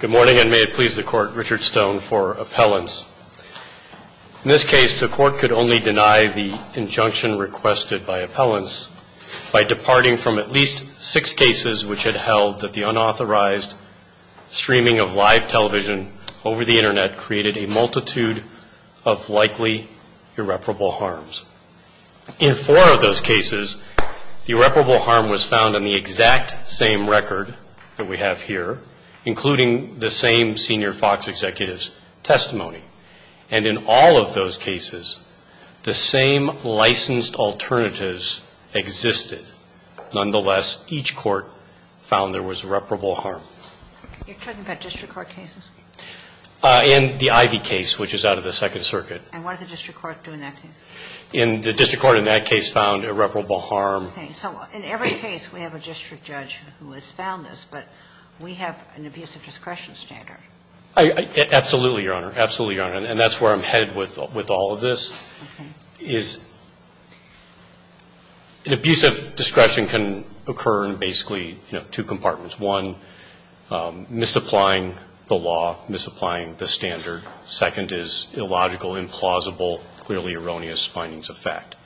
Good morning, and may it please the Court, Richard Stone for appellants. In this case, the Court could only deny the injunction requested by appellants by departing from at least six cases which had held that the unauthorized streaming of live television over the Internet created a multitude of likely irreparable harms. In four of those cases, the irreparable harm was found on the exact same record that we have here, including the same senior Fox executives' testimony. And in all of those cases, the same licensed alternatives existed. Nonetheless, each court found there was irreparable harm. You're talking about district court cases? And the Ivy case, which is out of the Second Circuit. And what did the district court do in that case? The district court in that case found irreparable harm. Okay. So in every case, we have a district judge who has found this, but we have an abusive discretion standard. Absolutely, Your Honor. Absolutely, Your Honor. And that's where I'm headed with all of this, is an abusive discretion can occur in basically, you know, two compartments. One, misapplying the law, misapplying the standard. Second is illogical, implausible, clearly erroneous findings of fact.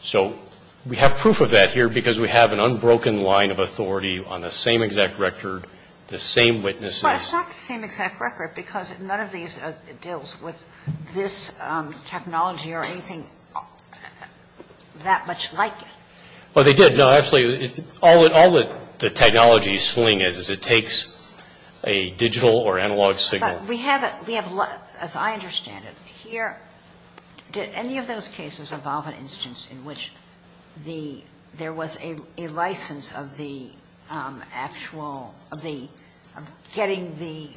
So we have proof of that here because we have an unbroken line of authority on the same exact record, the same witnesses. Well, it's not the same exact record because none of these deals with this technology or anything that much like it. Well, they did. No, absolutely. All the technology swing is, is it takes a digital or analog signal. We have a lot, as I understand it. Here, did any of those cases involve an instance in which the, there was a license of the actual, of the, of getting the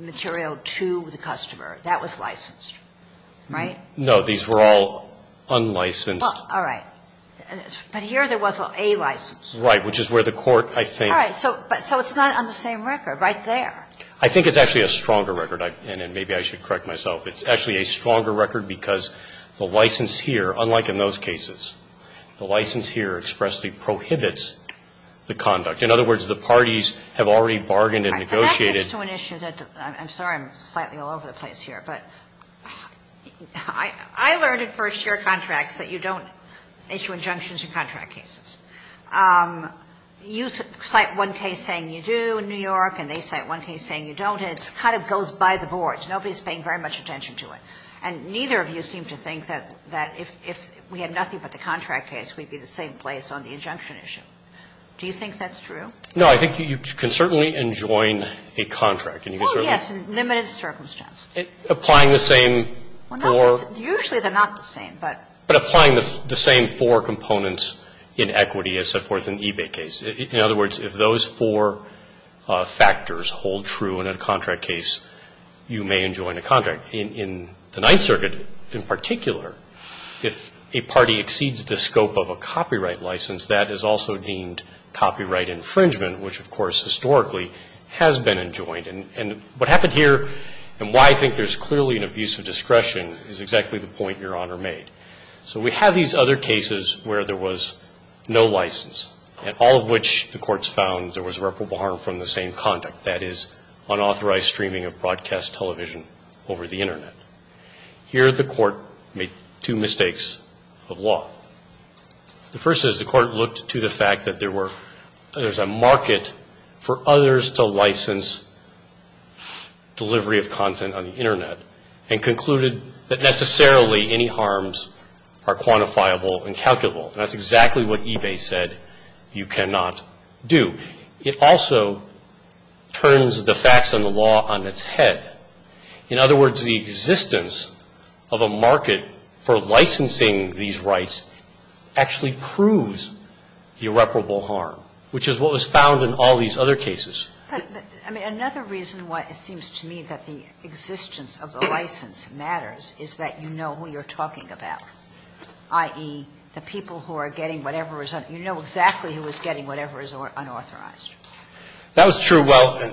material to the customer? That was licensed, right? No. These were all unlicensed. All right. But here there was a license. Right, which is where the court, I think. All right. So it's not on the same record right there. I think it's actually a stronger record. And maybe I should correct myself. It's actually a stronger record because the license here, unlike in those cases, the license here expressly prohibits the conduct. In other words, the parties have already bargained and negotiated. That gets to an issue that, I'm sorry, I'm slightly all over the place here. But I, I learned in first year contracts that you don't issue injunctions in contract cases. You cite one case saying you do in New York and they cite one case saying you don't and it kind of goes by the boards. Nobody is paying very much attention to it. And neither of you seem to think that, that if, if we had nothing but the contract case, we would be in the same place on the injunction issue. Do you think that's true? No. I think you can certainly enjoin a contract. Well, yes, in limited circumstance. Applying the same for? Well, no. Usually they're not the same, but. But applying the, the same four components in equity as set forth in the eBay case. In other words, if those four factors hold true in a contract case, you may enjoin a contract. In, in the Ninth Circuit in particular, if a party exceeds the scope of a copyright license, that is also deemed copyright infringement, which of course historically has been enjoined. And, and what happened here and why I think there's clearly an abuse of discretion is exactly the point Your Honor made. So we have these other cases where there was no license. And all of which the courts found there was reputable harm from the same conduct. That is, unauthorized streaming of broadcast television over the Internet. Here the court made two mistakes of law. The first is the court looked to the fact that there were, there's a market for others to license delivery of content on the Internet. And concluded that necessarily any harms are quantifiable and calculable. And that's exactly what eBay said you cannot do. It also turns the facts and the law on its head. In other words, the existence of a market for licensing these rights actually proves irreparable harm, which is what was found in all these other cases. But, but, I mean, another reason why it seems to me that the existence of the license matters is that you know who you're talking about, i.e., the people who are getting whatever is, you know exactly who is getting whatever is unauthorized. That was true. Well,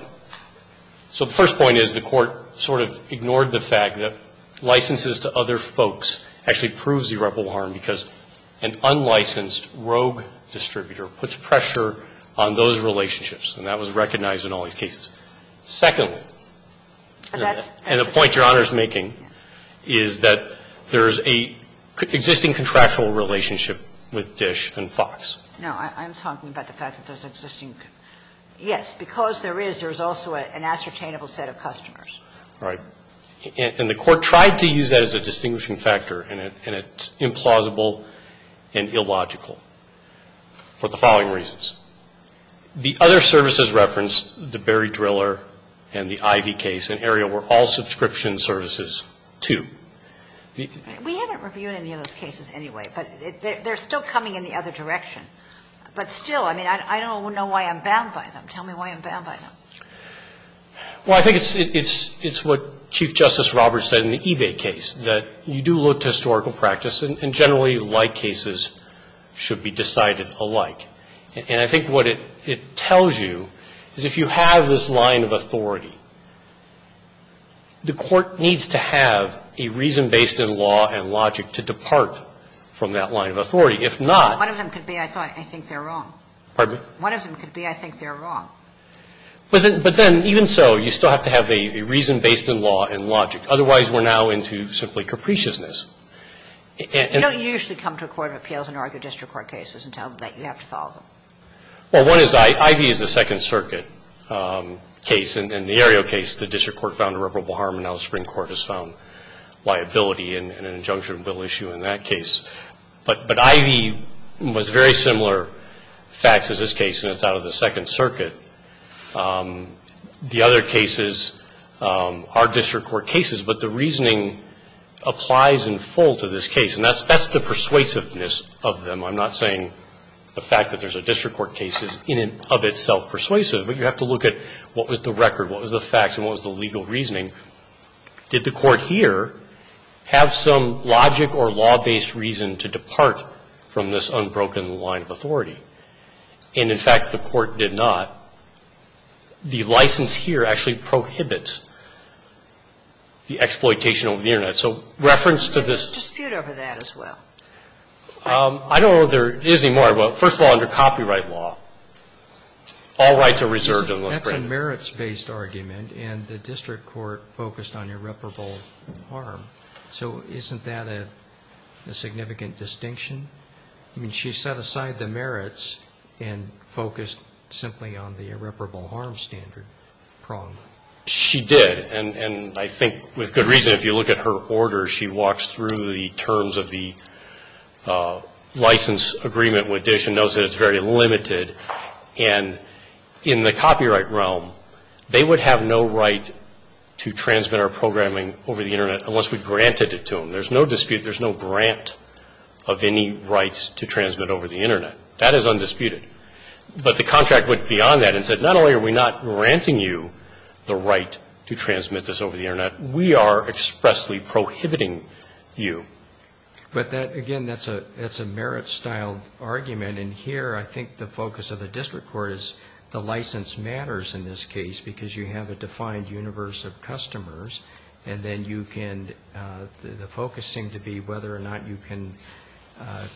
so the first point is the court sort of ignored the fact that licenses to other folks actually proves irreparable harm because an unlicensed rogue distributor puts pressure on those relationships, and that was recognized in all these cases. Secondly, and a point Your Honor is making, is that there is an existing contractual relationship with Dish and Fox. No, I'm talking about the fact that there's an existing, yes, because there is, there is also an ascertainable set of customers. Right. And the court tried to use that as a distinguishing factor, and it's implausible and illogical for the following reasons. The other services referenced, the Berry Driller and the Ivy case in area were all subscription services, too. We haven't reviewed any of those cases anyway, but they're still coming in the other direction. But still, I mean, I don't know why I'm bound by them. Tell me why I'm bound by them. Well, I think it's, it's, it's what Chief Justice Roberts said in the eBay case, that you do look to historical practice, and generally like cases should be decided alike. And I think what it tells you is if you have this line of authority, the court needs to have a reason based in law and logic to depart from that line of authority. If not. One of them could be, I thought, I think they're wrong. Pardon me? One of them could be, I think they're wrong. But then, even so, you still have to have a reason based in law and logic. Otherwise, we're now into simply capriciousness. And. You don't usually come to a court of appeals and argue district court cases and tell them that you have to follow them. Well, one is, Ivy is a Second Circuit case. In the area case, the district court found irreparable harm, and now the Supreme Court has found liability in an injunction bill issue in that case. But Ivy was very similar facts as this case, and it's out of the Second Circuit. The other cases are district court cases, but the reasoning applies in full to this case, and that's the persuasiveness of them. I'm not saying the fact that there's a district court case is in and of itself persuasive, but you have to look at what was the record, what was the facts, and what was the legal reasoning. Did the court here have some logic or law-based reason to depart from this unbroken line of authority? And, in fact, the court did not. The license here actually prohibits the exploitation of the Internet. So reference to this. There's a dispute over that as well. I don't know if there is anymore, but first of all, under copyright law, all rights are reserved unless granted. That's a merits-based argument, and the district court focused on irreparable harm. So isn't that a significant distinction? I mean, she set aside the merits and focused simply on the irreparable harm standard prong. She did, and I think with good reason. If you look at her order, she walks through the terms of the license agreement with DISH and knows that it's very limited. And in the copyright realm, they would have no right to transmit our programming over the Internet unless we granted it to them. There's no dispute. There's no grant of any rights to transmit over the Internet. That is undisputed. But the contract went beyond that and said, not only are we not granting you the right to transmit this over the Internet, we are expressly prohibiting you. But that, again, that's a merits-style argument, and here I think the focus of the district court is the license matters in this case because you have a defined universe of customers, and then you can, the focus seemed to be whether or not you can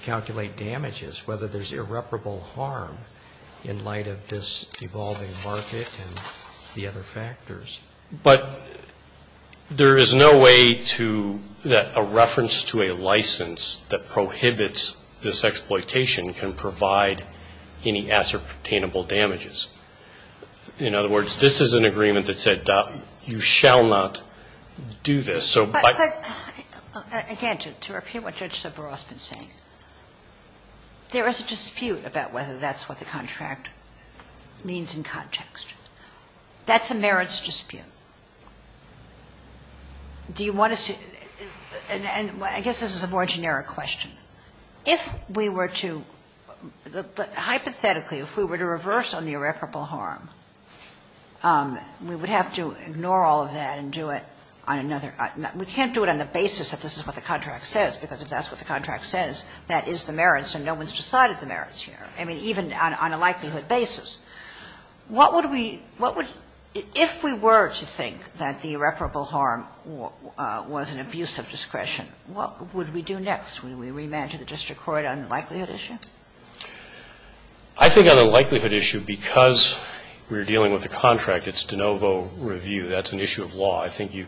calculate damages, whether there's irreparable harm in light of this evolving market and the other factors. But there is no way to, that a reference to a license that prohibits this exploitation can provide any ascertainable damages. In other words, this is an agreement that said, you shall not do this. So by the way. Kagan. Ginsburg. Again, to repeat what Judge Soberos has been saying. There is a dispute about whether that's what the contract means in context. That's a merits dispute. Do you want us to, and I guess this is a more generic question. If we were to, hypothetically, if we were to reverse on the irreparable harm, we would have to ignore all of that and do it on another. We can't do it on the basis that this is what the contract says, because if that's what the contract says, that is the merits, and no one's decided the merits here, I mean, even on a likelihood basis. What would we, what would, if we were to think that the irreparable harm was an abuse of discretion, what would we do next? Would we remand to the district court on the likelihood issue? I think on the likelihood issue, because we're dealing with a contract, it's de novo review, that's an issue of law. I think you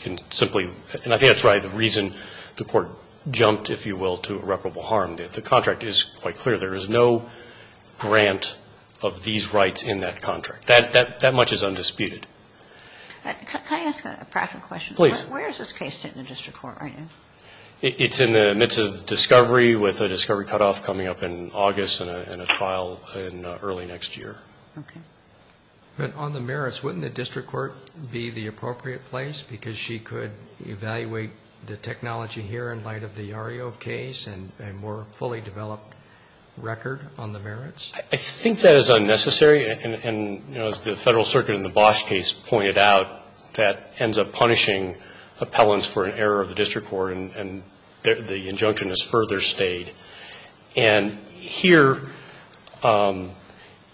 can simply, and I think that's right, the reason the Court jumped, if you will, to irreparable harm, that the contract is quite clear. There is no grant of these rights in that contract. That much is undisputed. Can I ask a practical question? Please. Where is this case sitting in the district court right now? It's in the midst of discovery, with a discovery cutoff coming up in August and a trial in early next year. Okay. But on the merits, wouldn't the district court be the appropriate place, because she could evaluate the technology here in light of the Yario case and a more fully developed record on the merits? I think that is unnecessary, and, you know, as the Federal Circuit in the Bosch case pointed out, that ends up punishing appellants for an error of the district court, and the injunction is further stayed. And here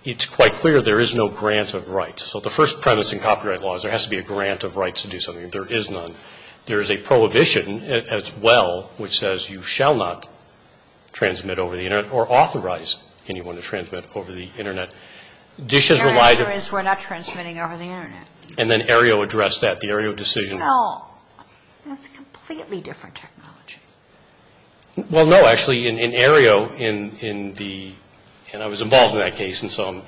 it's quite clear there is no grant of rights. So the first premise in copyright law is there has to be a grant of rights to do something. There is none. There is a prohibition as well, which says you shall not transmit over the Internet or authorize anyone to transmit over the Internet. Dish has relied on the law. And then Aereo addressed that, the Aereo decision. No, that's a completely different technology. Well, no, actually, in Aereo, in the – and I was involved in that case, and so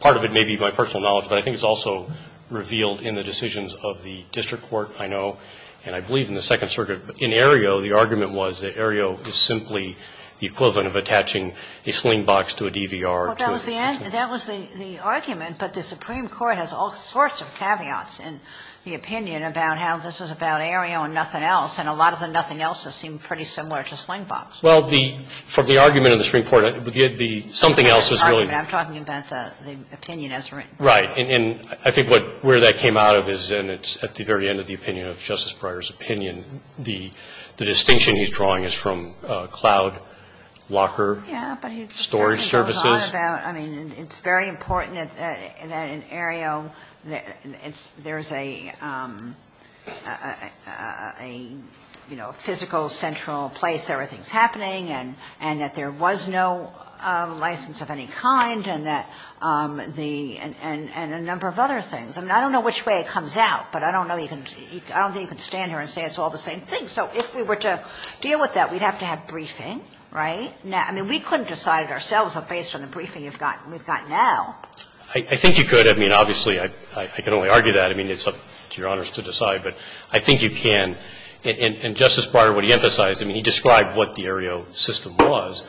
part of it may be my personal knowledge, but I think it's also revealed in the decisions of the district court, I know, and I believe in the Second Circuit. In Aereo, the argument was that Aereo is simply the equivalent of attaching a sling box to a DVR. Well, that was the argument, but the Supreme Court has all sorts of caveats in the opinion about how this was about Aereo and nothing else, and a lot of the nothing else seemed pretty similar to sling box. Well, the – from the argument of the Supreme Court, the something else is really I'm talking about the opinion as written. Right. And I think what – where that came out of is, and it's at the very end of the opinion of Justice Breyer's opinion, the distinction he's drawing is from cloud locker storage services. It goes on about – I mean, it's very important that in Aereo there's a physical, central place everything's happening and that there was no license of any kind and that the – and a number of other things. I mean, I don't know which way it comes out, but I don't know you can – I don't think you can stand here and say it's all the same thing. So if we were to deal with that, we'd have to have briefing, right? I mean, we couldn't have decided ourselves based on the briefing you've got – we've got now. I think you could. I mean, obviously, I can only argue that. I mean, it's up to Your Honors to decide, but I think you can. And Justice Breyer, what he emphasized, I mean, he described what the Aereo system was,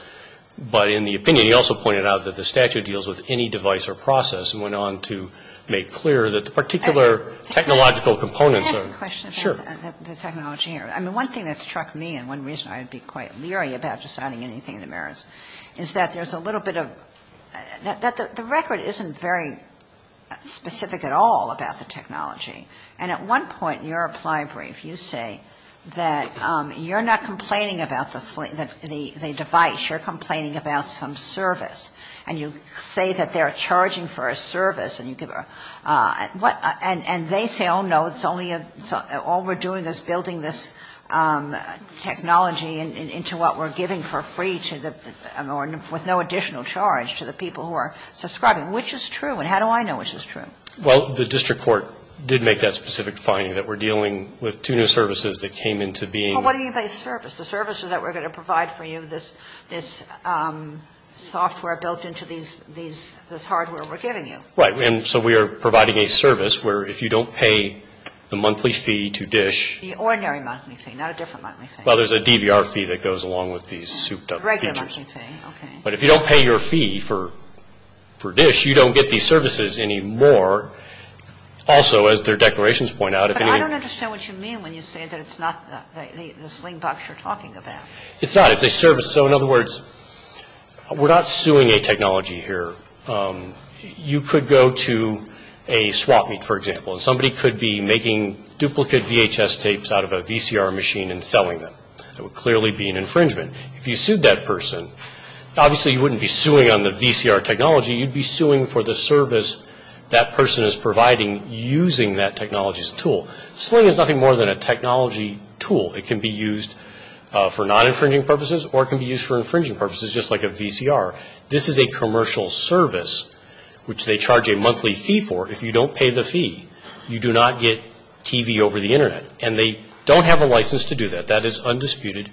but in the opinion he also pointed out that the statute deals with any device or process and went on to make clear that the particular technological components are – Can I ask a question about the technology here? Sure. I mean, one thing that struck me and one reason I'd be quite leery about deciding anything in the merits is that there's a little bit of – that the record isn't very specific at all about the technology. And at one point in your applying brief, you say that you're not complaining about the device, you're complaining about some service. And you say that they're charging for a service, and you give a – what – and they say, oh, no, it's only a – all we're doing is building this technology into what we're giving for free to the – with no additional charge to the people who are subscribing. Which is true, and how do I know which is true? Well, the district court did make that specific finding, that we're dealing with two new services that came into being. Well, what do you mean by service? The services that we're going to provide for you, this software built into these – this hardware we're giving you. Right. And so we are providing a service where if you don't pay the monthly fee to DISH – The ordinary monthly fee, not a different monthly fee. Well, there's a DVR fee that goes along with these souped-up features. Regular monthly fee, okay. But if you don't pay your fee for DISH, you don't get these services anymore. Also, as their declarations point out, if any – But I don't understand what you mean when you say that it's not the sling box you're talking about. It's not. It's a service. So in other words, we're not suing a technology here. You could go to a swap meet, for example, and somebody could be making duplicate VHS tapes out of a VCR machine and selling them. It would clearly be an infringement. If you sued that person, obviously you wouldn't be suing on the VCR technology. You'd be suing for the service that person is providing using that technology's tool. Sling is nothing more than a technology tool. It can be used for non-infringing purposes or it can be used for infringing purposes, just like a VCR. This is a commercial service, which they charge a monthly fee for. If you don't pay the they don't have a license to do that. That is undisputed.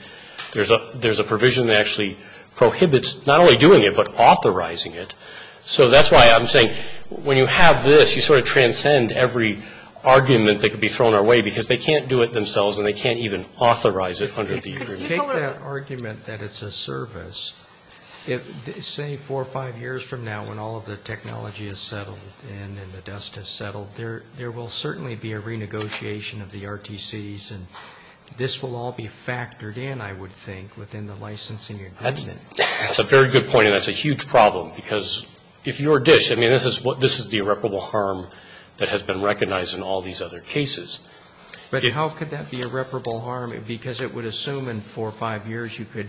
There's a provision that actually prohibits not only doing it, but authorizing it. So that's why I'm saying when you have this, you sort of transcend every argument that could be thrown our way because they can't do it themselves and they can't even authorize it under the agreement. Could you take that argument that it's a service, say four or five years from now when all of the technology is settled and the dust has settled, there will certainly be a renegotiation of the RTCs and this will all be factored in, I would think, within the licensing agreement? That's a very good point and that's a huge problem because if you're DISH, I mean, this is the irreparable harm that has been recognized in all these other cases. But how could that be irreparable harm? Because it would assume in four or five years you could,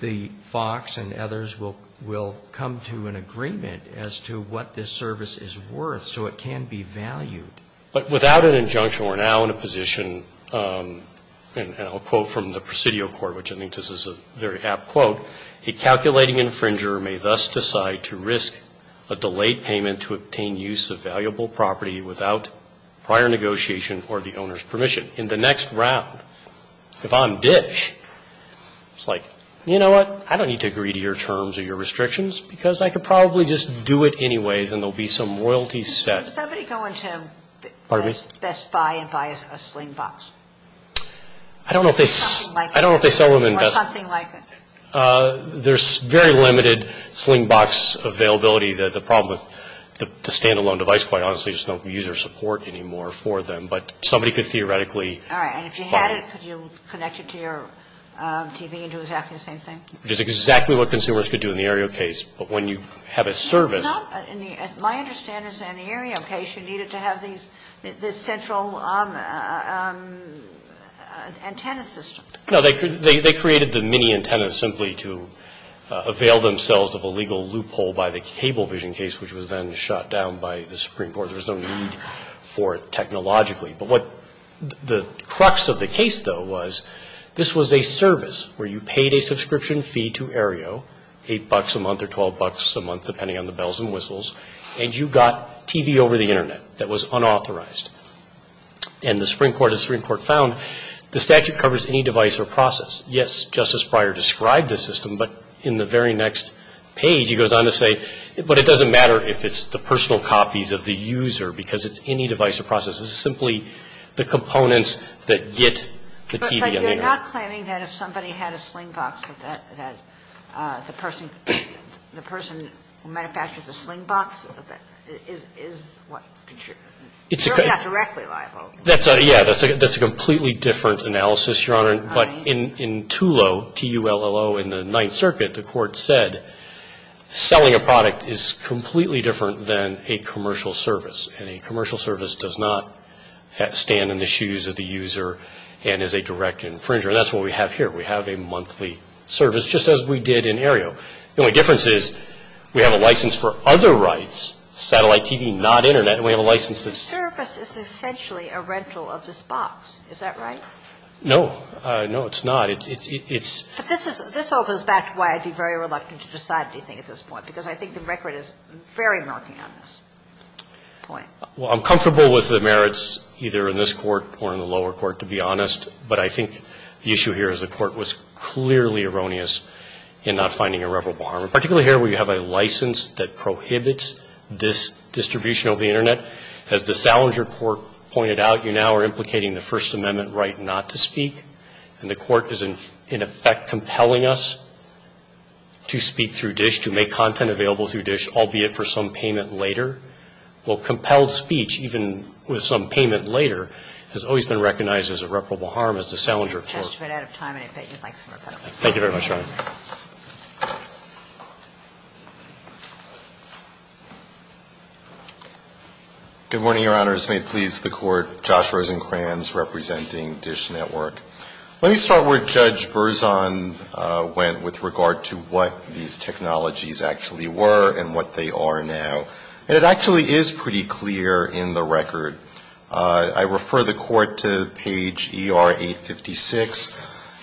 the FOX and others will come to an agreement as to what this service is worth so it can be valued. But without an injunction, we're now in a position, and I'll quote from the Presidio Court, which I think this is a very apt quote, a calculating infringer may thus decide to risk a delayed payment to obtain use of valuable property without prior negotiation or the owner's permission. In the next round, if I'm DISH, it's like, you know what, I don't need to agree to your terms or your restrictions because I could probably just do it anyways and there will be some royalty set. Could somebody go into Best Buy and buy a Slingbox? I don't know if they sell them in Best Buy. Or something like it? There's very limited Slingbox availability. The problem with the stand-alone device, quite honestly, is there's no user support anymore for them. But somebody could theoretically buy it. All right. And if you had it, could you connect it to your TV and do exactly the same thing? Which is exactly what consumers could do in the Aereo case. But when you have a service It's not, in my understanding, in the Aereo case, you needed to have these, this central antenna system. No, they created the mini-antennas simply to avail themselves of a legal loophole by the cable vision case, which was then shut down by the Supreme Court. There was no need for it technologically. But what the crux of the case, though, was this was a service where you paid a subscription fee to Aereo, 8 bucks a month or 12 bucks a month, depending on the bells and whistles. And you got TV over the Internet. That was unauthorized. And the Supreme Court, as the Supreme Court found, the statute covers any device or process. Yes, Justice Breyer described the system, but in the very next page he goes on to say, but it doesn't matter if it's the personal copies of the user, because it's any device It's simply the components that get the TV on the Internet. You're not claiming that if somebody had a sling box, that the person who manufactures the sling box is what, not directly liable? That's a, yeah, that's a completely different analysis, Your Honor. But in TULLO, T-U-L-L-O, in the Ninth Circuit, the court said selling a product is completely different than a commercial service. And a commercial service does not stand in the shoes of the user and is a direct infringer, and that's what we have here. We have a monthly service, just as we did in Aereo. The only difference is we have a license for other rights, satellite TV, not Internet, and we have a license that's the same. Sotomayor, The service is essentially a rental of this box, is that right? No, it's not. It's, it's, it's, it's, it's. But this is, this opens back to why I'd be very reluctant to decide anything at this point, because I think the record is very marking on this point. Well, I'm comfortable with the merits, either in this Court or in the lower court, to be honest, but I think the issue here is the court was clearly erroneous in not finding irreparable harm, particularly here where you have a license that prohibits this distribution of the Internet. As the Salinger Court pointed out, you now are implicating the First Amendment right not to speak, and the court is in, in effect compelling us to speak through DISH, to make content available through DISH, albeit for some payment later. Well, compelled speech, even with some payment later, has always been recognized as irreparable harm as the Salinger Court. The test has been out of time, and I bet you'd like some rebuttal. Thank you very much, Your Honor. Good morning, Your Honors. May it please the Court. Josh Rosenkranz, representing DISH Network. Let me start where Judge Berzon went with regard to what these technologies actually were and what they are now. And it actually is pretty clear in the record. I refer the Court to page ER 856,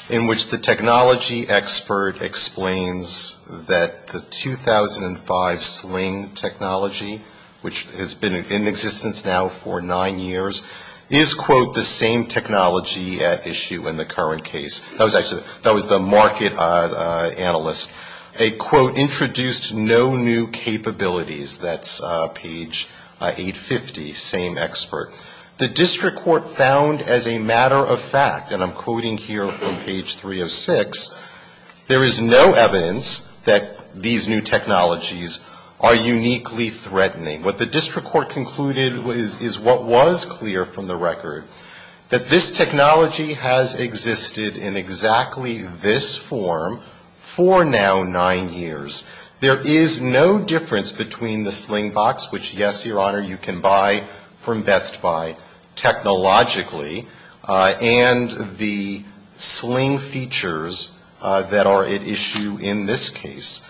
in which the technology expert explains that the 2005 Sling technology, which has been in existence now for nine years, is, quote, the same technology at issue in the current case. That was actually, that was the market analyst. A quote, introduced no new capabilities. That's page 850, same expert. The district court found as a matter of fact, and I'm quoting here from page 306, there is no evidence that these new technologies are uniquely threatening. What the district court concluded is what was clear from the record. That this technology has existed in exactly this form for now nine years. There is no difference between the Sling box, which yes, Your Honor, you can buy from Best Buy. Technologically, and the Sling features that are at issue in this case.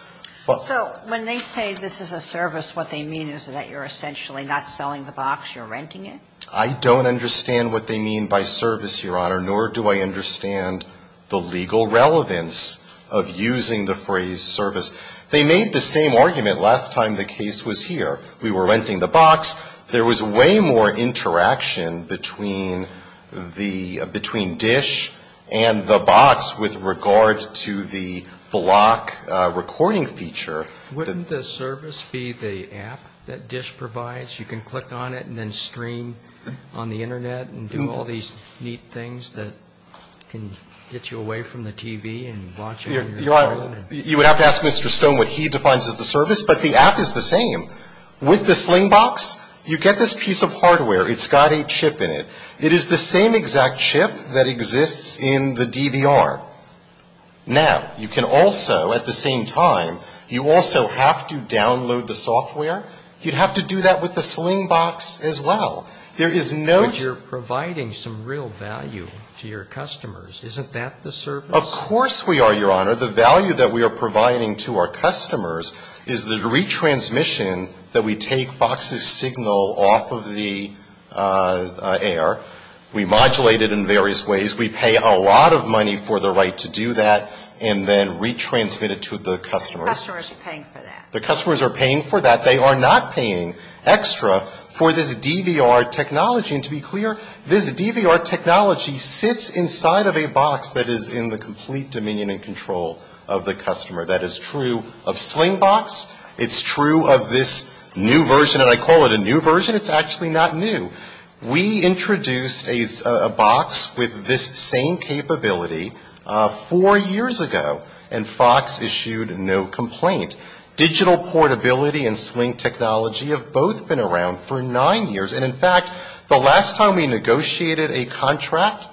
So when they say this is a service, what they mean is that you're essentially not selling the box, you're renting it? I don't understand what they mean by service, Your Honor, nor do I understand the legal relevance of using the phrase service. They made the same argument last time the case was here. We were renting the box. There was way more interaction between the, between DISH and the box with regard to the block recording feature. Wouldn't the service be the app that DISH provides? You can click on it and then stream on the internet and do all these neat things that can get you away from the TV and watch it. Your Honor, you would have to ask Mr. Stone what he defines as the service, but the app is the same. With the Sling box, you get this piece of hardware. It's got a chip in it. It is the same exact chip that exists in the DVR. Now, you can also, at the same time, you also have to download the software. You'd have to do that with the Sling box as well. There is no. But you're providing some real value to your customers. Isn't that the service? Of course we are, Your Honor. The value that we are providing to our customers is the retransmission that we take Fox's signal off of the AR. We modulate it in various ways. We pay a lot of money for the right to do that and then retransmit it to the customers. The customers are paying for that. The customers are paying for that. They are not paying extra for this DVR technology. And to be clear, this DVR technology sits inside of a box that is in the complete dominion and control of the customer. That is true of Sling box. It's true of this new version. And I call it a new version. It's actually not new. We introduced a box with this same capability four years ago. And Fox issued no complaint. Digital portability and Sling technology have both been around for nine years. And in fact, the last time we negotiated a contract,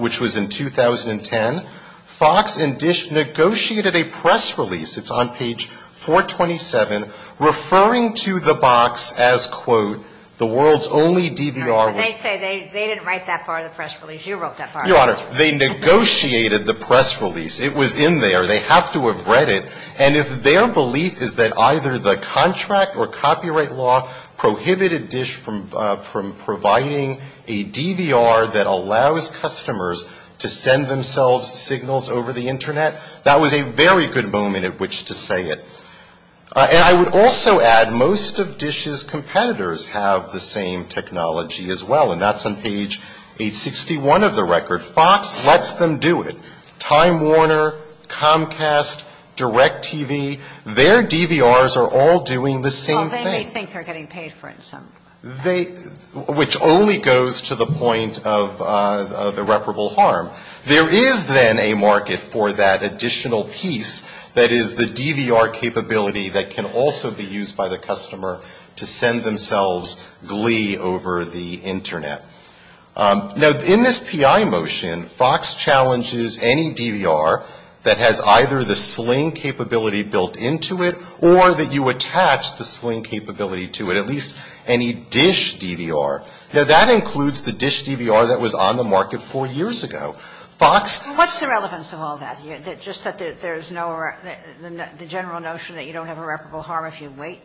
which was in 2010, Fox negotiated a press release. It's on page 427, referring to the box as, quote, the world's only DVR. They say they didn't write that part of the press release. You wrote that part. Your Honor, they negotiated the press release. It was in there. They have to have read it. And if their belief is that either the contract or copyright law prohibited DISH from providing a DVR that allows customers to send themselves signals over the Internet, that was a very good moment at which to say it. And I would also add, most of DISH's competitors have the same technology as well. And that's on page 861 of the record. Fox lets them do it. Time Warner, Comcast, DirecTV, their DVRs are all doing the same thing. Well, they may think they're getting paid for it some. Which only goes to the point of irreparable harm. There is then a market for that additional piece that is the DVR capability that can also be used by the customer to send themselves glee over the Internet. Now, in this PI motion, Fox challenges any DVR that has either the Sling capability built into it or that you attach the Sling capability to it, at least any DISH DVR. Now, that includes the DISH DVR that was on the market four years ago. Fox — What's the relevance of all that? Just that there's no — the general notion that you don't have irreparable harm if you wait?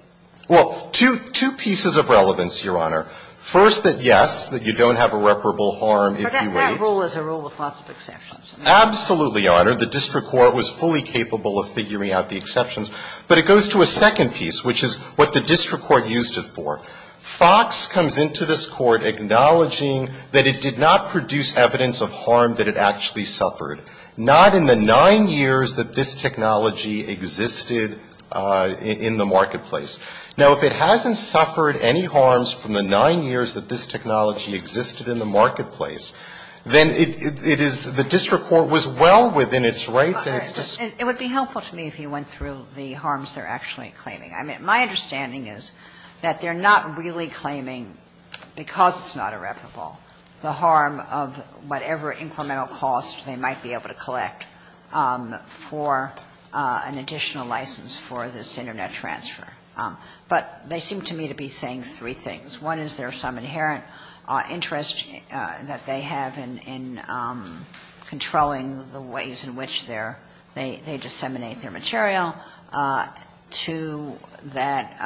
Well, two pieces of relevance, Your Honor. First, that, yes, that you don't have irreparable harm if you wait. But that rule is a rule with lots of exceptions. Absolutely, Your Honor. The district court was fully capable of figuring out the exceptions. But it goes to a second piece, which is what the district court used it for. Fox comes into this Court acknowledging that it did not produce evidence of harm that it actually suffered, not in the nine years that this technology existed in the marketplace. Now, if it hasn't suffered any harms from the nine years that this technology existed in the marketplace, then it is — the district court was well within its rights and it's just — It would be helpful to me if you went through the harms they're actually claiming. I mean, my understanding is that they're not really claiming, because it's not irreparable, the harm of whatever incremental cost they might be able to collect for an additional license for this Internet transfer. But they seem to me to be saying three things. One is there's some inherent interest that they have in controlling the ways in which they're — they disseminate their material. Two, that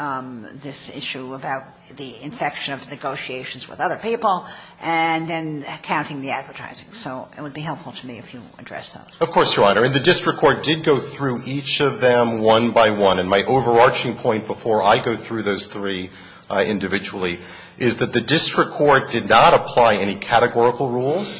this issue about the infection of negotiations with other people, and then counting the advertising. So it would be helpful to me if you addressed those. Of course, Your Honor. I mean, the district court did go through each of them one by one. And my overarching point before I go through those three individually is that the district court did not apply any categorical rules,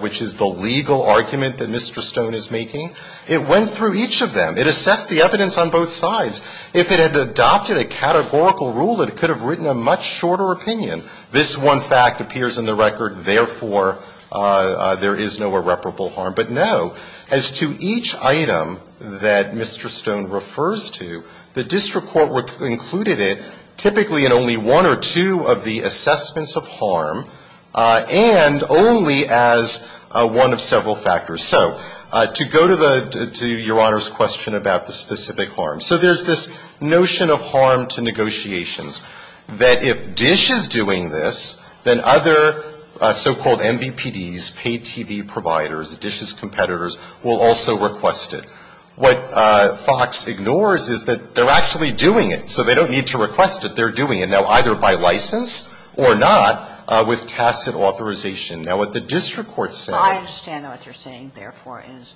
which is the legal argument that Mr. Stone is making. It went through each of them. It assessed the evidence on both sides. If it had adopted a categorical rule, it could have written a much shorter opinion. This one fact appears in the record, therefore there is no irreparable harm. But, no, as to each item that Mr. Stone refers to, the district court included it typically in only one or two of the assessments of harm, and only as one of several factors. So to go to the — to Your Honor's question about the specific harm. So there's this notion of harm to negotiations, that if DISH is doing this, then other so-called MVPDs, paid TV providers, DISH's competitors, will also request it. What FOX ignores is that they're actually doing it, so they don't need to request it. They're doing it now either by license or not with tacit authorization. Now, what the district court said — I understand what you're saying, therefore, is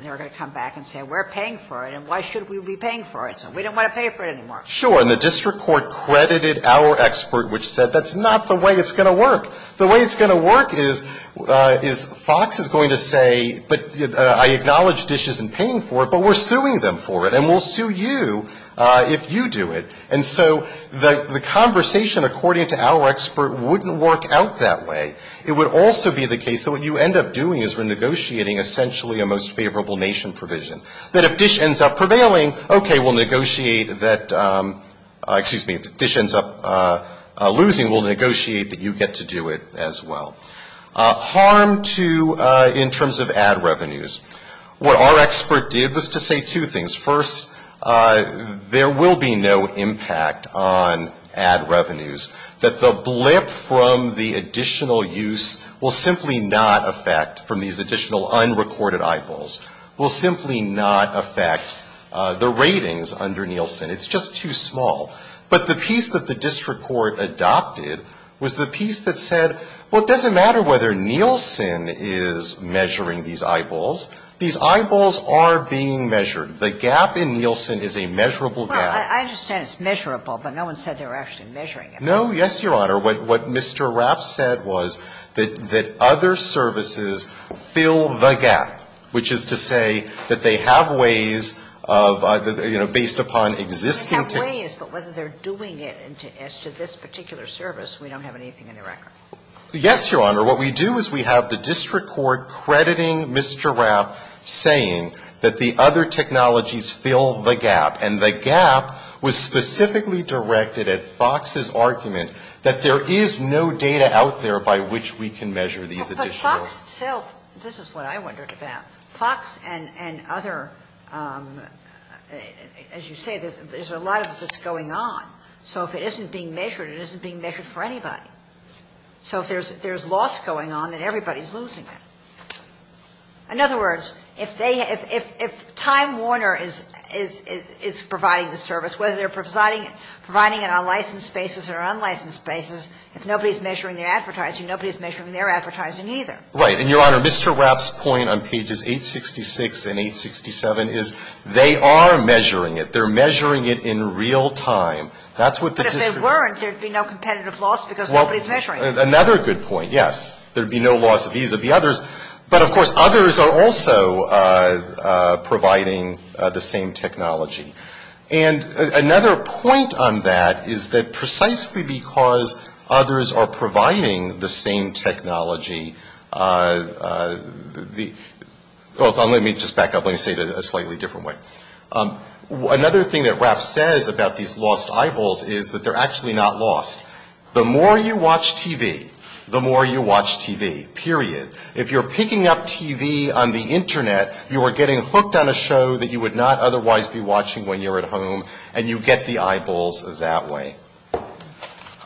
they're going to come back and say we're paying for it, and why should we be paying for it? We don't want to pay for it anymore. Sure. And the district court credited our expert, which said that's not the way it's going to work. The way it's going to work is FOX is going to say, but I acknowledge DISH isn't paying for it, but we're suing them for it, and we'll sue you if you do it. And so the conversation, according to our expert, wouldn't work out that way. It would also be the case that what you end up doing is we're negotiating essentially a most favorable nation provision, that if DISH ends up prevailing, okay, we'll negotiate that — excuse me, if DISH ends up losing, we'll negotiate that you get to do it as well. Harm to — in terms of ad revenues, what our expert did was to say two things. First, there will be no impact on ad revenues. That the blip from the additional use will simply not affect — from these additional unrecorded eyeballs — will simply not affect the ratings under Nielsen. It's just too small. But the piece that the district court adopted was the piece that said, well, it doesn't matter whether Nielsen is measuring these eyeballs. These eyeballs are being measured. The gap in Nielsen is a measurable gap. Well, I understand it's measurable, but no one said they were actually measuring it. No, yes, Your Honor. What Mr. Rapp said was that other services fill the gap, which is to say that they have ways of — you know, based upon existing — We have ways, but whether they're doing it as to this particular service, we don't have anything in the record. Yes, Your Honor. What we do is we have the district court crediting Mr. Rapp, saying that the other technologies fill the gap, and the gap was specifically directed at Fox's argument that there is no data out there by which we can measure these additional — Well, but Fox itself — this is what I wondered about. Fox and other — as you say, there's a lot of this going on. So if it isn't being measured, it isn't being measured for anybody. So if there's loss going on, then everybody's losing it. In other words, if they — if Time Warner is providing the service, whether they're providing it on licensed basis or unlicensed basis, if nobody's measuring their advertising, nobody's measuring their advertising either. Right. And, Your Honor, Mr. Rapp's point on pages 866 and 867 is they are measuring it. They're measuring it in real time. That's what the district — But if they weren't, there'd be no competitive loss because nobody's measuring it. Well, another good point, yes. There'd be no loss vis-a-vis others, but, of course, others are also providing the same technology. And another point on that is that precisely because others are providing the same technology, the — well, let me just back up. Let me say it a slightly different way. Another thing that Rapp says about these lost eyeballs is that they're actually not lost. The more you watch TV, the more you watch TV, period. If you're picking up TV on the Internet, you are getting hooked on a show that you would not otherwise be watching when you're at home, and you get the eyeballs that way.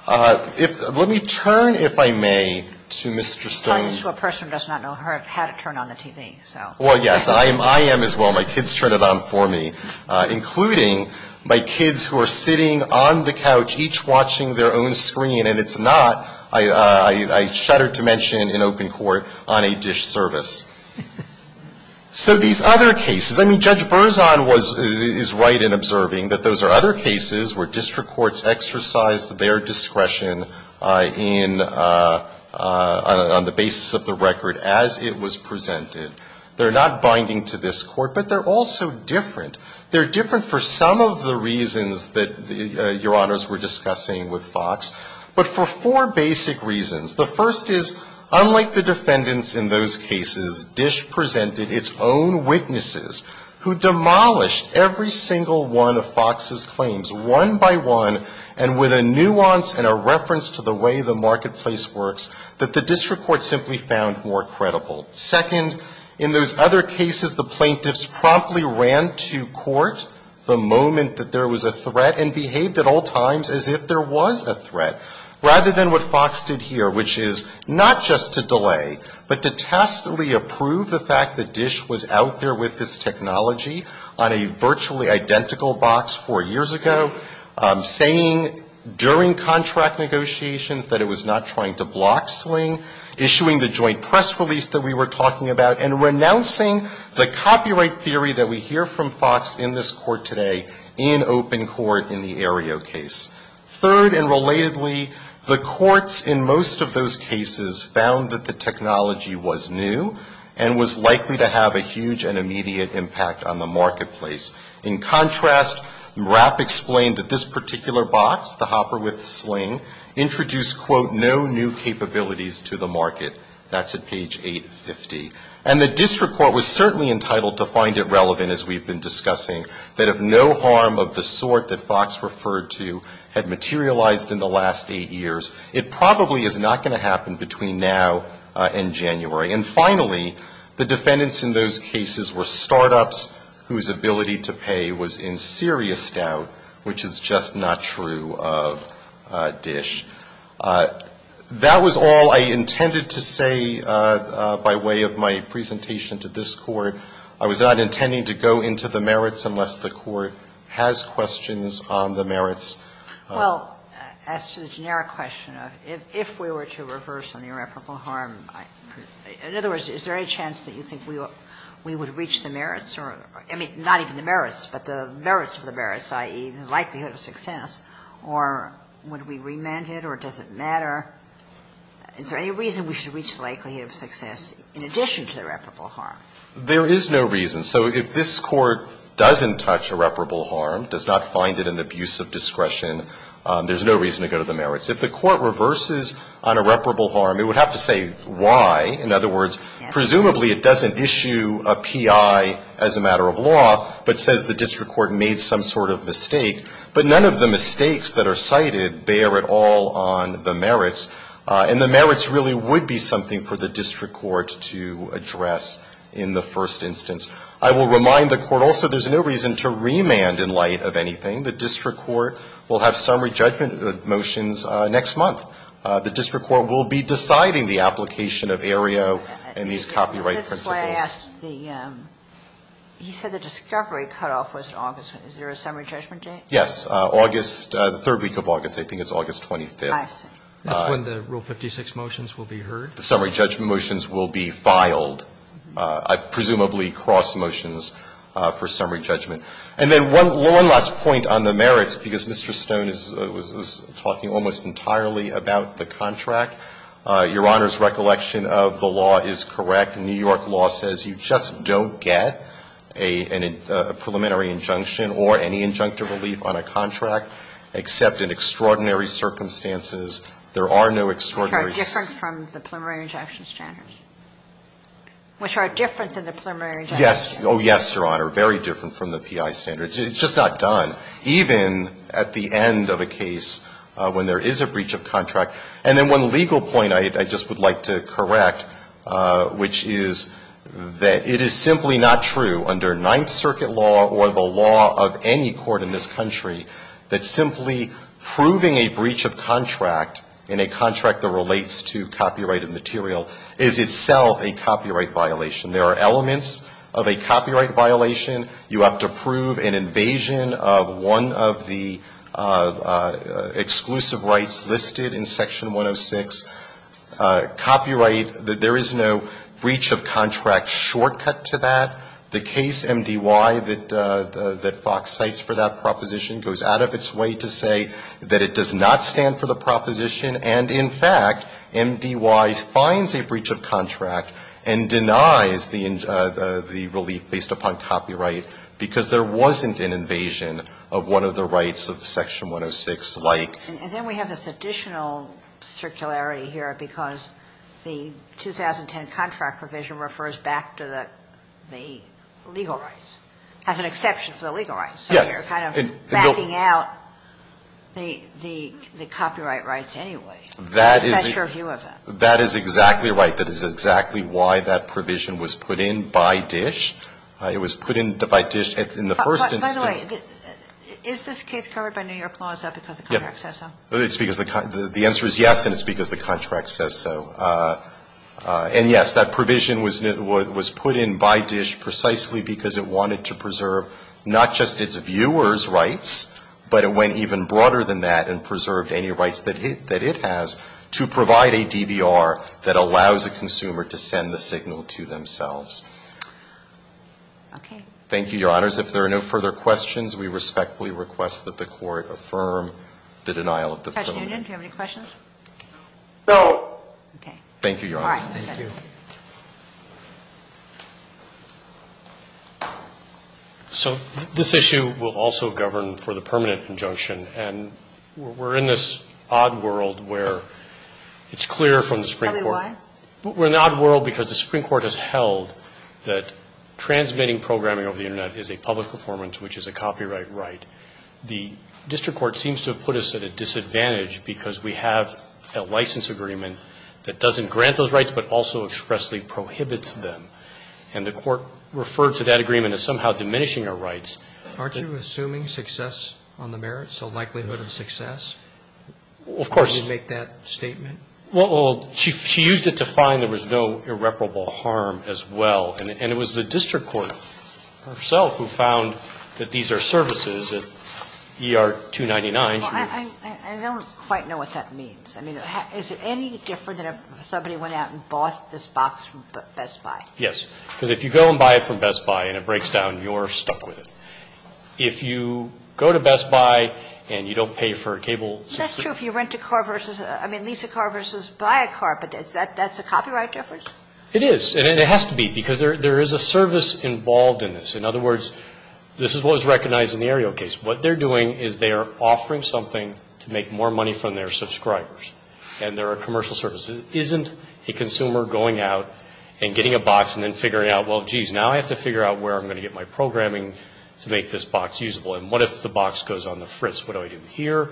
Let me turn, if I may, to Mr. Stone. Telling you to a person who does not know how to turn on the TV, so. Well, yes, I am as well. My kids turn it on for me, including my kids who are sitting on the couch, each watching their own screen. And it's not, I shudder to mention, in open court on a dish service. So these other cases — I mean, Judge Berzon was — is right in observing that those are other cases where district courts exercised their discretion in — on the basis of the record as it was presented. They're not binding to this Court, but they're also different. They're different for some of the reasons that Your Honors were discussing with Fox, but for four basic reasons. The first is, unlike the defendants in those cases, Dish presented its own witnesses who demolished every single one of Fox's claims, one by one, and with a nuance and a reference to the way the marketplace works, that the district court simply found more credible. Second, in those other cases, the plaintiffs promptly ran to court the moment that there was a threat, and behaved at all times as if there was a threat, rather than what Fox did here, which is not just to delay, but to testily approve the fact that Fox's technology on a virtually identical box four years ago, saying during contract negotiations that it was not trying to block sling, issuing the joint press release that we were talking about, and renouncing the copyright theory that we hear from Fox in this Court today in open court in the Aereo case. Third, and relatedly, the courts in most of those cases found that the technology was new, and was likely to have a huge and immediate impact on the marketplace. In contrast, Mrapp explained that this particular box, the hopper with sling, introduced, quote, no new capabilities to the market. That's at page 850. And the district court was certainly entitled to find it relevant, as we've been discussing, that if no harm of the sort that Fox referred to had materialized in the last eight years, it probably is not going to happen between now and January. And finally, the defendants in those cases were startups whose ability to pay was in serious doubt, which is just not true of Dish. That was all I intended to say by way of my presentation to this Court. I was not intending to go into the merits unless the Court has questions on the merits. Well, as to the generic question, if we were to reverse an irreparable harm, in other words, is there any chance that you think we would reach the merits or, I mean, not even the merits, but the merits of the merits, i.e., the likelihood of success, or would we remand it, or does it matter? Is there any reason we should reach the likelihood of success in addition to the irreparable harm? There is no reason. So if this Court doesn't touch irreparable harm, does not find it an abuse of discretion, there is no reason to go to the merits. If the Court reverses on irreparable harm, it would have to say why. In other words, presumably it doesn't issue a P.I. as a matter of law, but says the district court made some sort of mistake. But none of the mistakes that are cited bear at all on the merits. And the merits really would be something for the district court to address in the first instance. I will remind the Court also there's no reason to remand in light of anything. The district court will have summary judgment motions next month. The district court will be deciding the application of AREA and these copyright principles. He said the discovery cutoff was in August. Is there a summary judgment date? Yes. August, the third week of August, I think it's August 25th. I see. That's when the Rule 56 motions will be heard? The summary judgment motions will be filed. I presumably cross motions for summary judgment. And then one last point on the merits, because Mr. Stone was talking almost entirely about the contract. Your Honor's recollection of the law is correct. New York law says you just don't get a preliminary injunction or any injunctive relief on a contract except in extraordinary circumstances. There are no extraordinary circumstances. Which are different than the preliminary injunctive relief. Yes. Oh, yes, Your Honor. Very different from the PI standards. It's just not done, even at the end of a case when there is a breach of contract. And then one legal point I just would like to correct, which is that it is simply not true under Ninth Circuit law or the law of any court in this country that simply proving a breach of contract in a contract that relates to copyrighted material is itself a copyright violation. There are elements of a copyright violation. You have to prove an invasion of one of the exclusive rights listed in Section 106. Copyright, there is no breach of contract shortcut to that. The case MDY that Fox cites for that proposition goes out of its way to say that it does not stand for the proposition. And in fact, MDY finds a breach of contract and denies the relief based upon copyright because there wasn't an invasion of one of the rights of Section 106 like. And then we have this additional circularity here because the 2010 contract provision refers back to the legal rights, has an exception for the legal rights. So you're kind of backing out the copyright rights anyway. That's your view of it. That is exactly right. That is exactly why that provision was put in by DISH. It was put in by DISH in the first instance. By the way, is this case covered by New York law? Is that because the contract says so? It's because the answer is yes, and it's because the contract says so. And yes, that provision was put in by DISH precisely because it wanted to preserve not just its viewers' rights, but it went even broader than that and preserved any rights that it has to provide a DBR that allows a consumer to send the signal to themselves. Thank you, Your Honors. If there are no further questions, we respectfully request that the Court affirm the denial of the felony. Kagan. Mr. Hutchinson, do you have any questions? No. Okay. Thank you, Your Honors. All right. Thank you. So this issue will also govern for the permanent injunction. And we're in this odd world where it's clear from the Supreme Court. Tell me why. We're in an odd world because the Supreme Court has held that transmitting programming over the Internet is a public performance, which is a copyright right. The district court seems to have put us at a disadvantage because we have a license agreement that doesn't grant those rights but also expressly prohibits them. And the Court referred to that agreement as somehow diminishing our rights. Aren't you assuming success on the merits, the likelihood of success? Of course. Did you make that statement? Well, she used it to find there was no irreparable harm as well. And it was the district court herself who found that these are services at ER-299. I don't quite know what that means. I mean, is it any different than if somebody went out and bought this box from Best Buy? Yes. Because if you go and buy it from Best Buy and it breaks down, you're stuck with it. If you go to Best Buy and you don't pay for a cable system. That's true if you rent a car versus – I mean lease a car versus buy a car. But is that – that's a copyright difference? It is. And it has to be because there is a service involved in this. In other words, this is what was recognized in the Ariel case. What they're doing is they are offering something to make more money from their subscribers. And they're a commercial service. It isn't a consumer going out and getting a box and then figuring out, well, jeez, now I have to figure out where I'm going to get my programming to make this box usable. And what if the box goes on the fritz? What do I do here?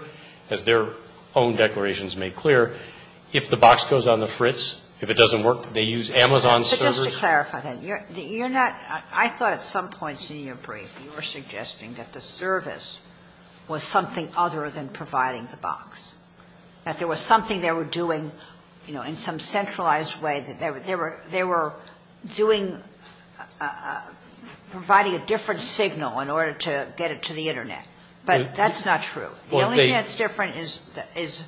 As their own declarations made clear, if the box goes on the fritz, if it doesn't work, they use Amazon servers. But just to clarify that, you're not – I thought at some points in your brief you were suggesting that the service was something other than providing the box, that there was something they were doing, you know, in some centralized way that they were – they were doing – providing a different signal in order to get it to the Internet. But that's not true. The only thing that's different is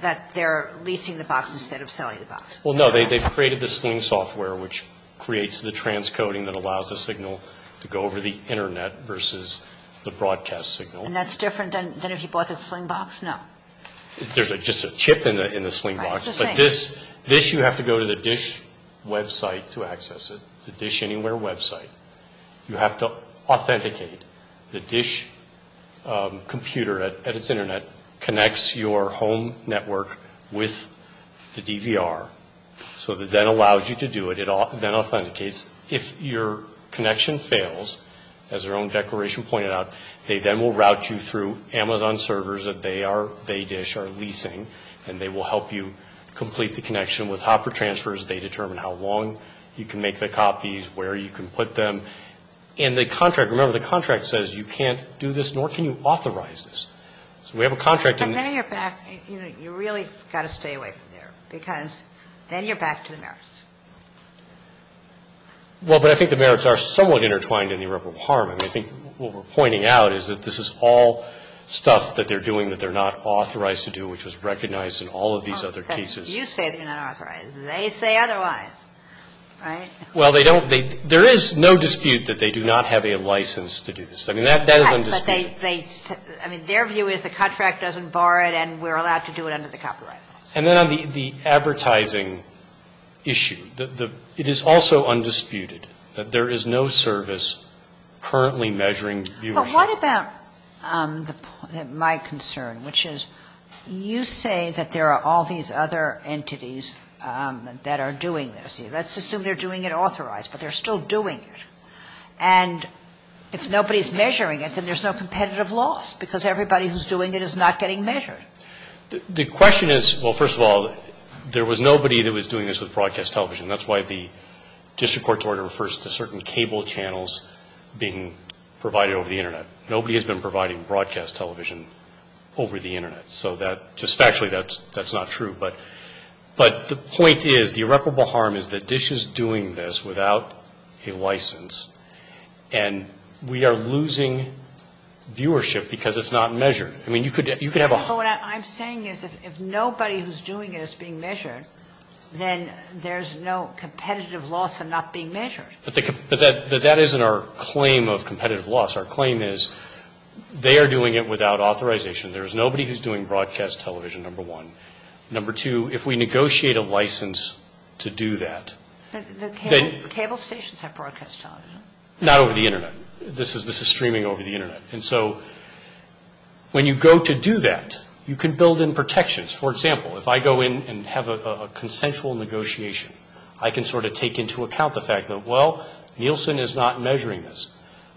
that they're leasing the box instead of selling the box. Well, no, they've created the Sling software, which creates the transcoding that allows the signal to go over the Internet versus the broadcast signal. And that's different than if you bought the Sling box? No. There's just a chip in the Sling box. But this – this you have to go to the DISH website to access it, the DISH Anywhere website. You have to authenticate. The DISH computer at its Internet connects your home network with the DVR. So it then allows you to do it. It then authenticates. If your connection fails, as their own declaration pointed out, they then will route you through Amazon servers that they are – they, DISH, are leasing. And they will help you complete the connection with hopper transfers. They determine how long you can make the copies, where you can put them. And the contract – remember, the contract says you can't do this, nor can you authorize this. So we have a contract in – But then you're back – you know, you really got to stay away from there. Because then you're back to the merits. Well, but I think the merits are somewhat intertwined in the irreparable harm. I mean, I think what we're pointing out is that this is all stuff that they're doing that they're not authorized to do, which was recognized in all of these other cases. You say they're not authorized. They say otherwise, right? Well, they don't – there is no dispute that they do not have a license to do this. I mean, that is undisputed. But they – I mean, their view is the contract doesn't bar it and we're allowed to do it under the copyright laws. And then on the advertising issue, it is also undisputed that there is no service currently measuring viewership. But what about my concern, which is you say that there are all these other entities that are doing this. Well, let's assume they're doing it authorized, but they're still doing it. And if nobody's measuring it, then there's no competitive loss because everybody who's doing it is not getting measured. The question is – well, first of all, there was nobody that was doing this with broadcast television. That's why the district court's order refers to certain cable channels being provided over the Internet. Nobody has been providing broadcast television over the Internet. So that – just factually, that's not true. But the point is, the irreparable harm is that DISH is doing this without a license and we are losing viewership because it's not measured. I mean, you could have a – But what I'm saying is if nobody who's doing it is being measured, then there's no competitive loss in not being measured. But that isn't our claim of competitive loss. Our claim is they are doing it without authorization. There is nobody who's doing broadcast television, number one. Number two, if we negotiate a license to do that, then – The cable stations have broadcast television. Not over the Internet. This is streaming over the Internet. And so when you go to do that, you can build in protections. For example, if I go in and have a consensual negotiation, I can sort of take into account the fact that, well, Nielsen is not measuring this.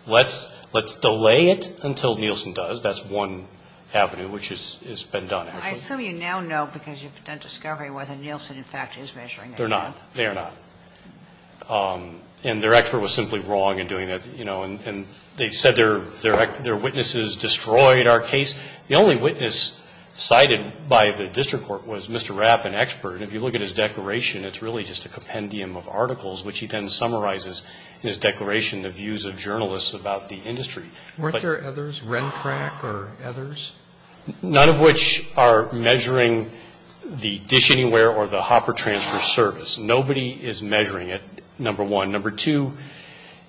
Let's delay it until Nielsen does. That's one avenue which has been done. I assume you now know because you've done discovery whether Nielsen, in fact, is measuring. They're not. They are not. And their expert was simply wrong in doing that, you know. And they said their witnesses destroyed our case. The only witness cited by the district court was Mr. Rapp, an expert. And if you look at his declaration, it's really just a compendium of articles, which he then summarizes in his declaration of views of journalists about the industry. Weren't there others, Rentrac or others? None of which are measuring the Dish Anywhere or the Hopper Transfer Service. Nobody is measuring it, number one. Number two,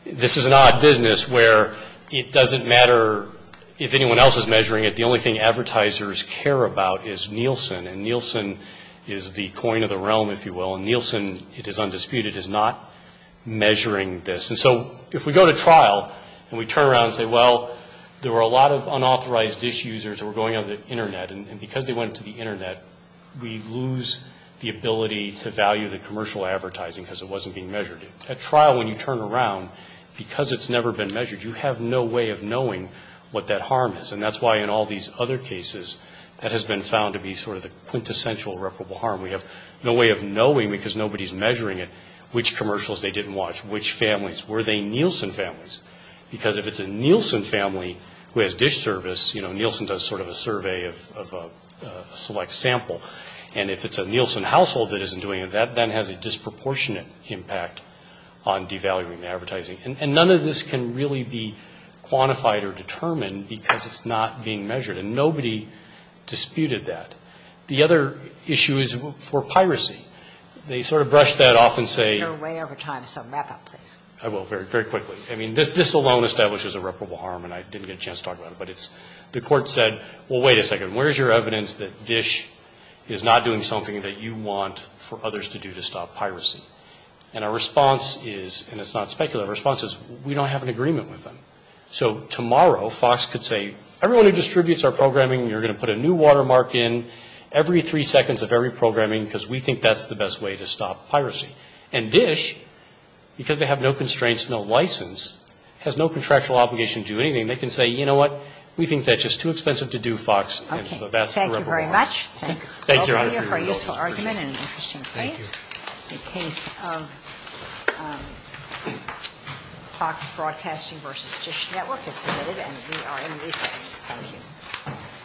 this is an odd business where it doesn't matter if anyone else is measuring it. The only thing advertisers care about is Nielsen. And Nielsen is the coin of the realm, if you will. And Nielsen, it is undisputed, is not measuring this. And so if we go to trial and we turn around and say, well, there were a lot of unauthorized dish users that were going on the Internet, and because they went to the Internet, we lose the ability to value the commercial advertising because it wasn't being measured. At trial, when you turn around, because it's never been measured, you have no way of knowing what that harm is. And that's why in all these other cases, that has been found to be sort of the quintessential irreparable harm. We have no way of knowing because nobody is measuring it which commercials they didn't watch, which families, were they Nielsen families. Because if it's a Nielsen family who has dish service, you know, Nielsen does sort of a survey of a select sample. And if it's a Nielsen household that isn't doing it, that then has a disproportionate impact on devaluing the advertising. And none of this can really be quantified or determined because it's not being measured. And nobody disputed that. The other issue is for piracy. They sort of brush that off and say you're way over time. I will very, very quickly. I mean, this alone establishes irreparable harm. And I didn't get a chance to talk about it. But it's the court said, well, wait a second. Where's your evidence that dish is not doing something that you want for others to do to stop piracy? And our response is, and it's not speculative responses, we don't have an agreement with them. So tomorrow, Fox could say, everyone who distributes our programming, you're going to put a new watermark in every three seconds of every programming because we think that's the best way to stop piracy. And dish, because they have no constraints, no license, has no contractual obligation to do anything. They can say, you know what, we think that's just too expensive to do, Fox. And so that's irreparable harm. Thank you very much. Thank you, Your Honor. Thank you for a useful argument and an interesting case. Thank you. The case of Fox Broadcasting v. Dish Network is submitted and we are in recess. Thank you.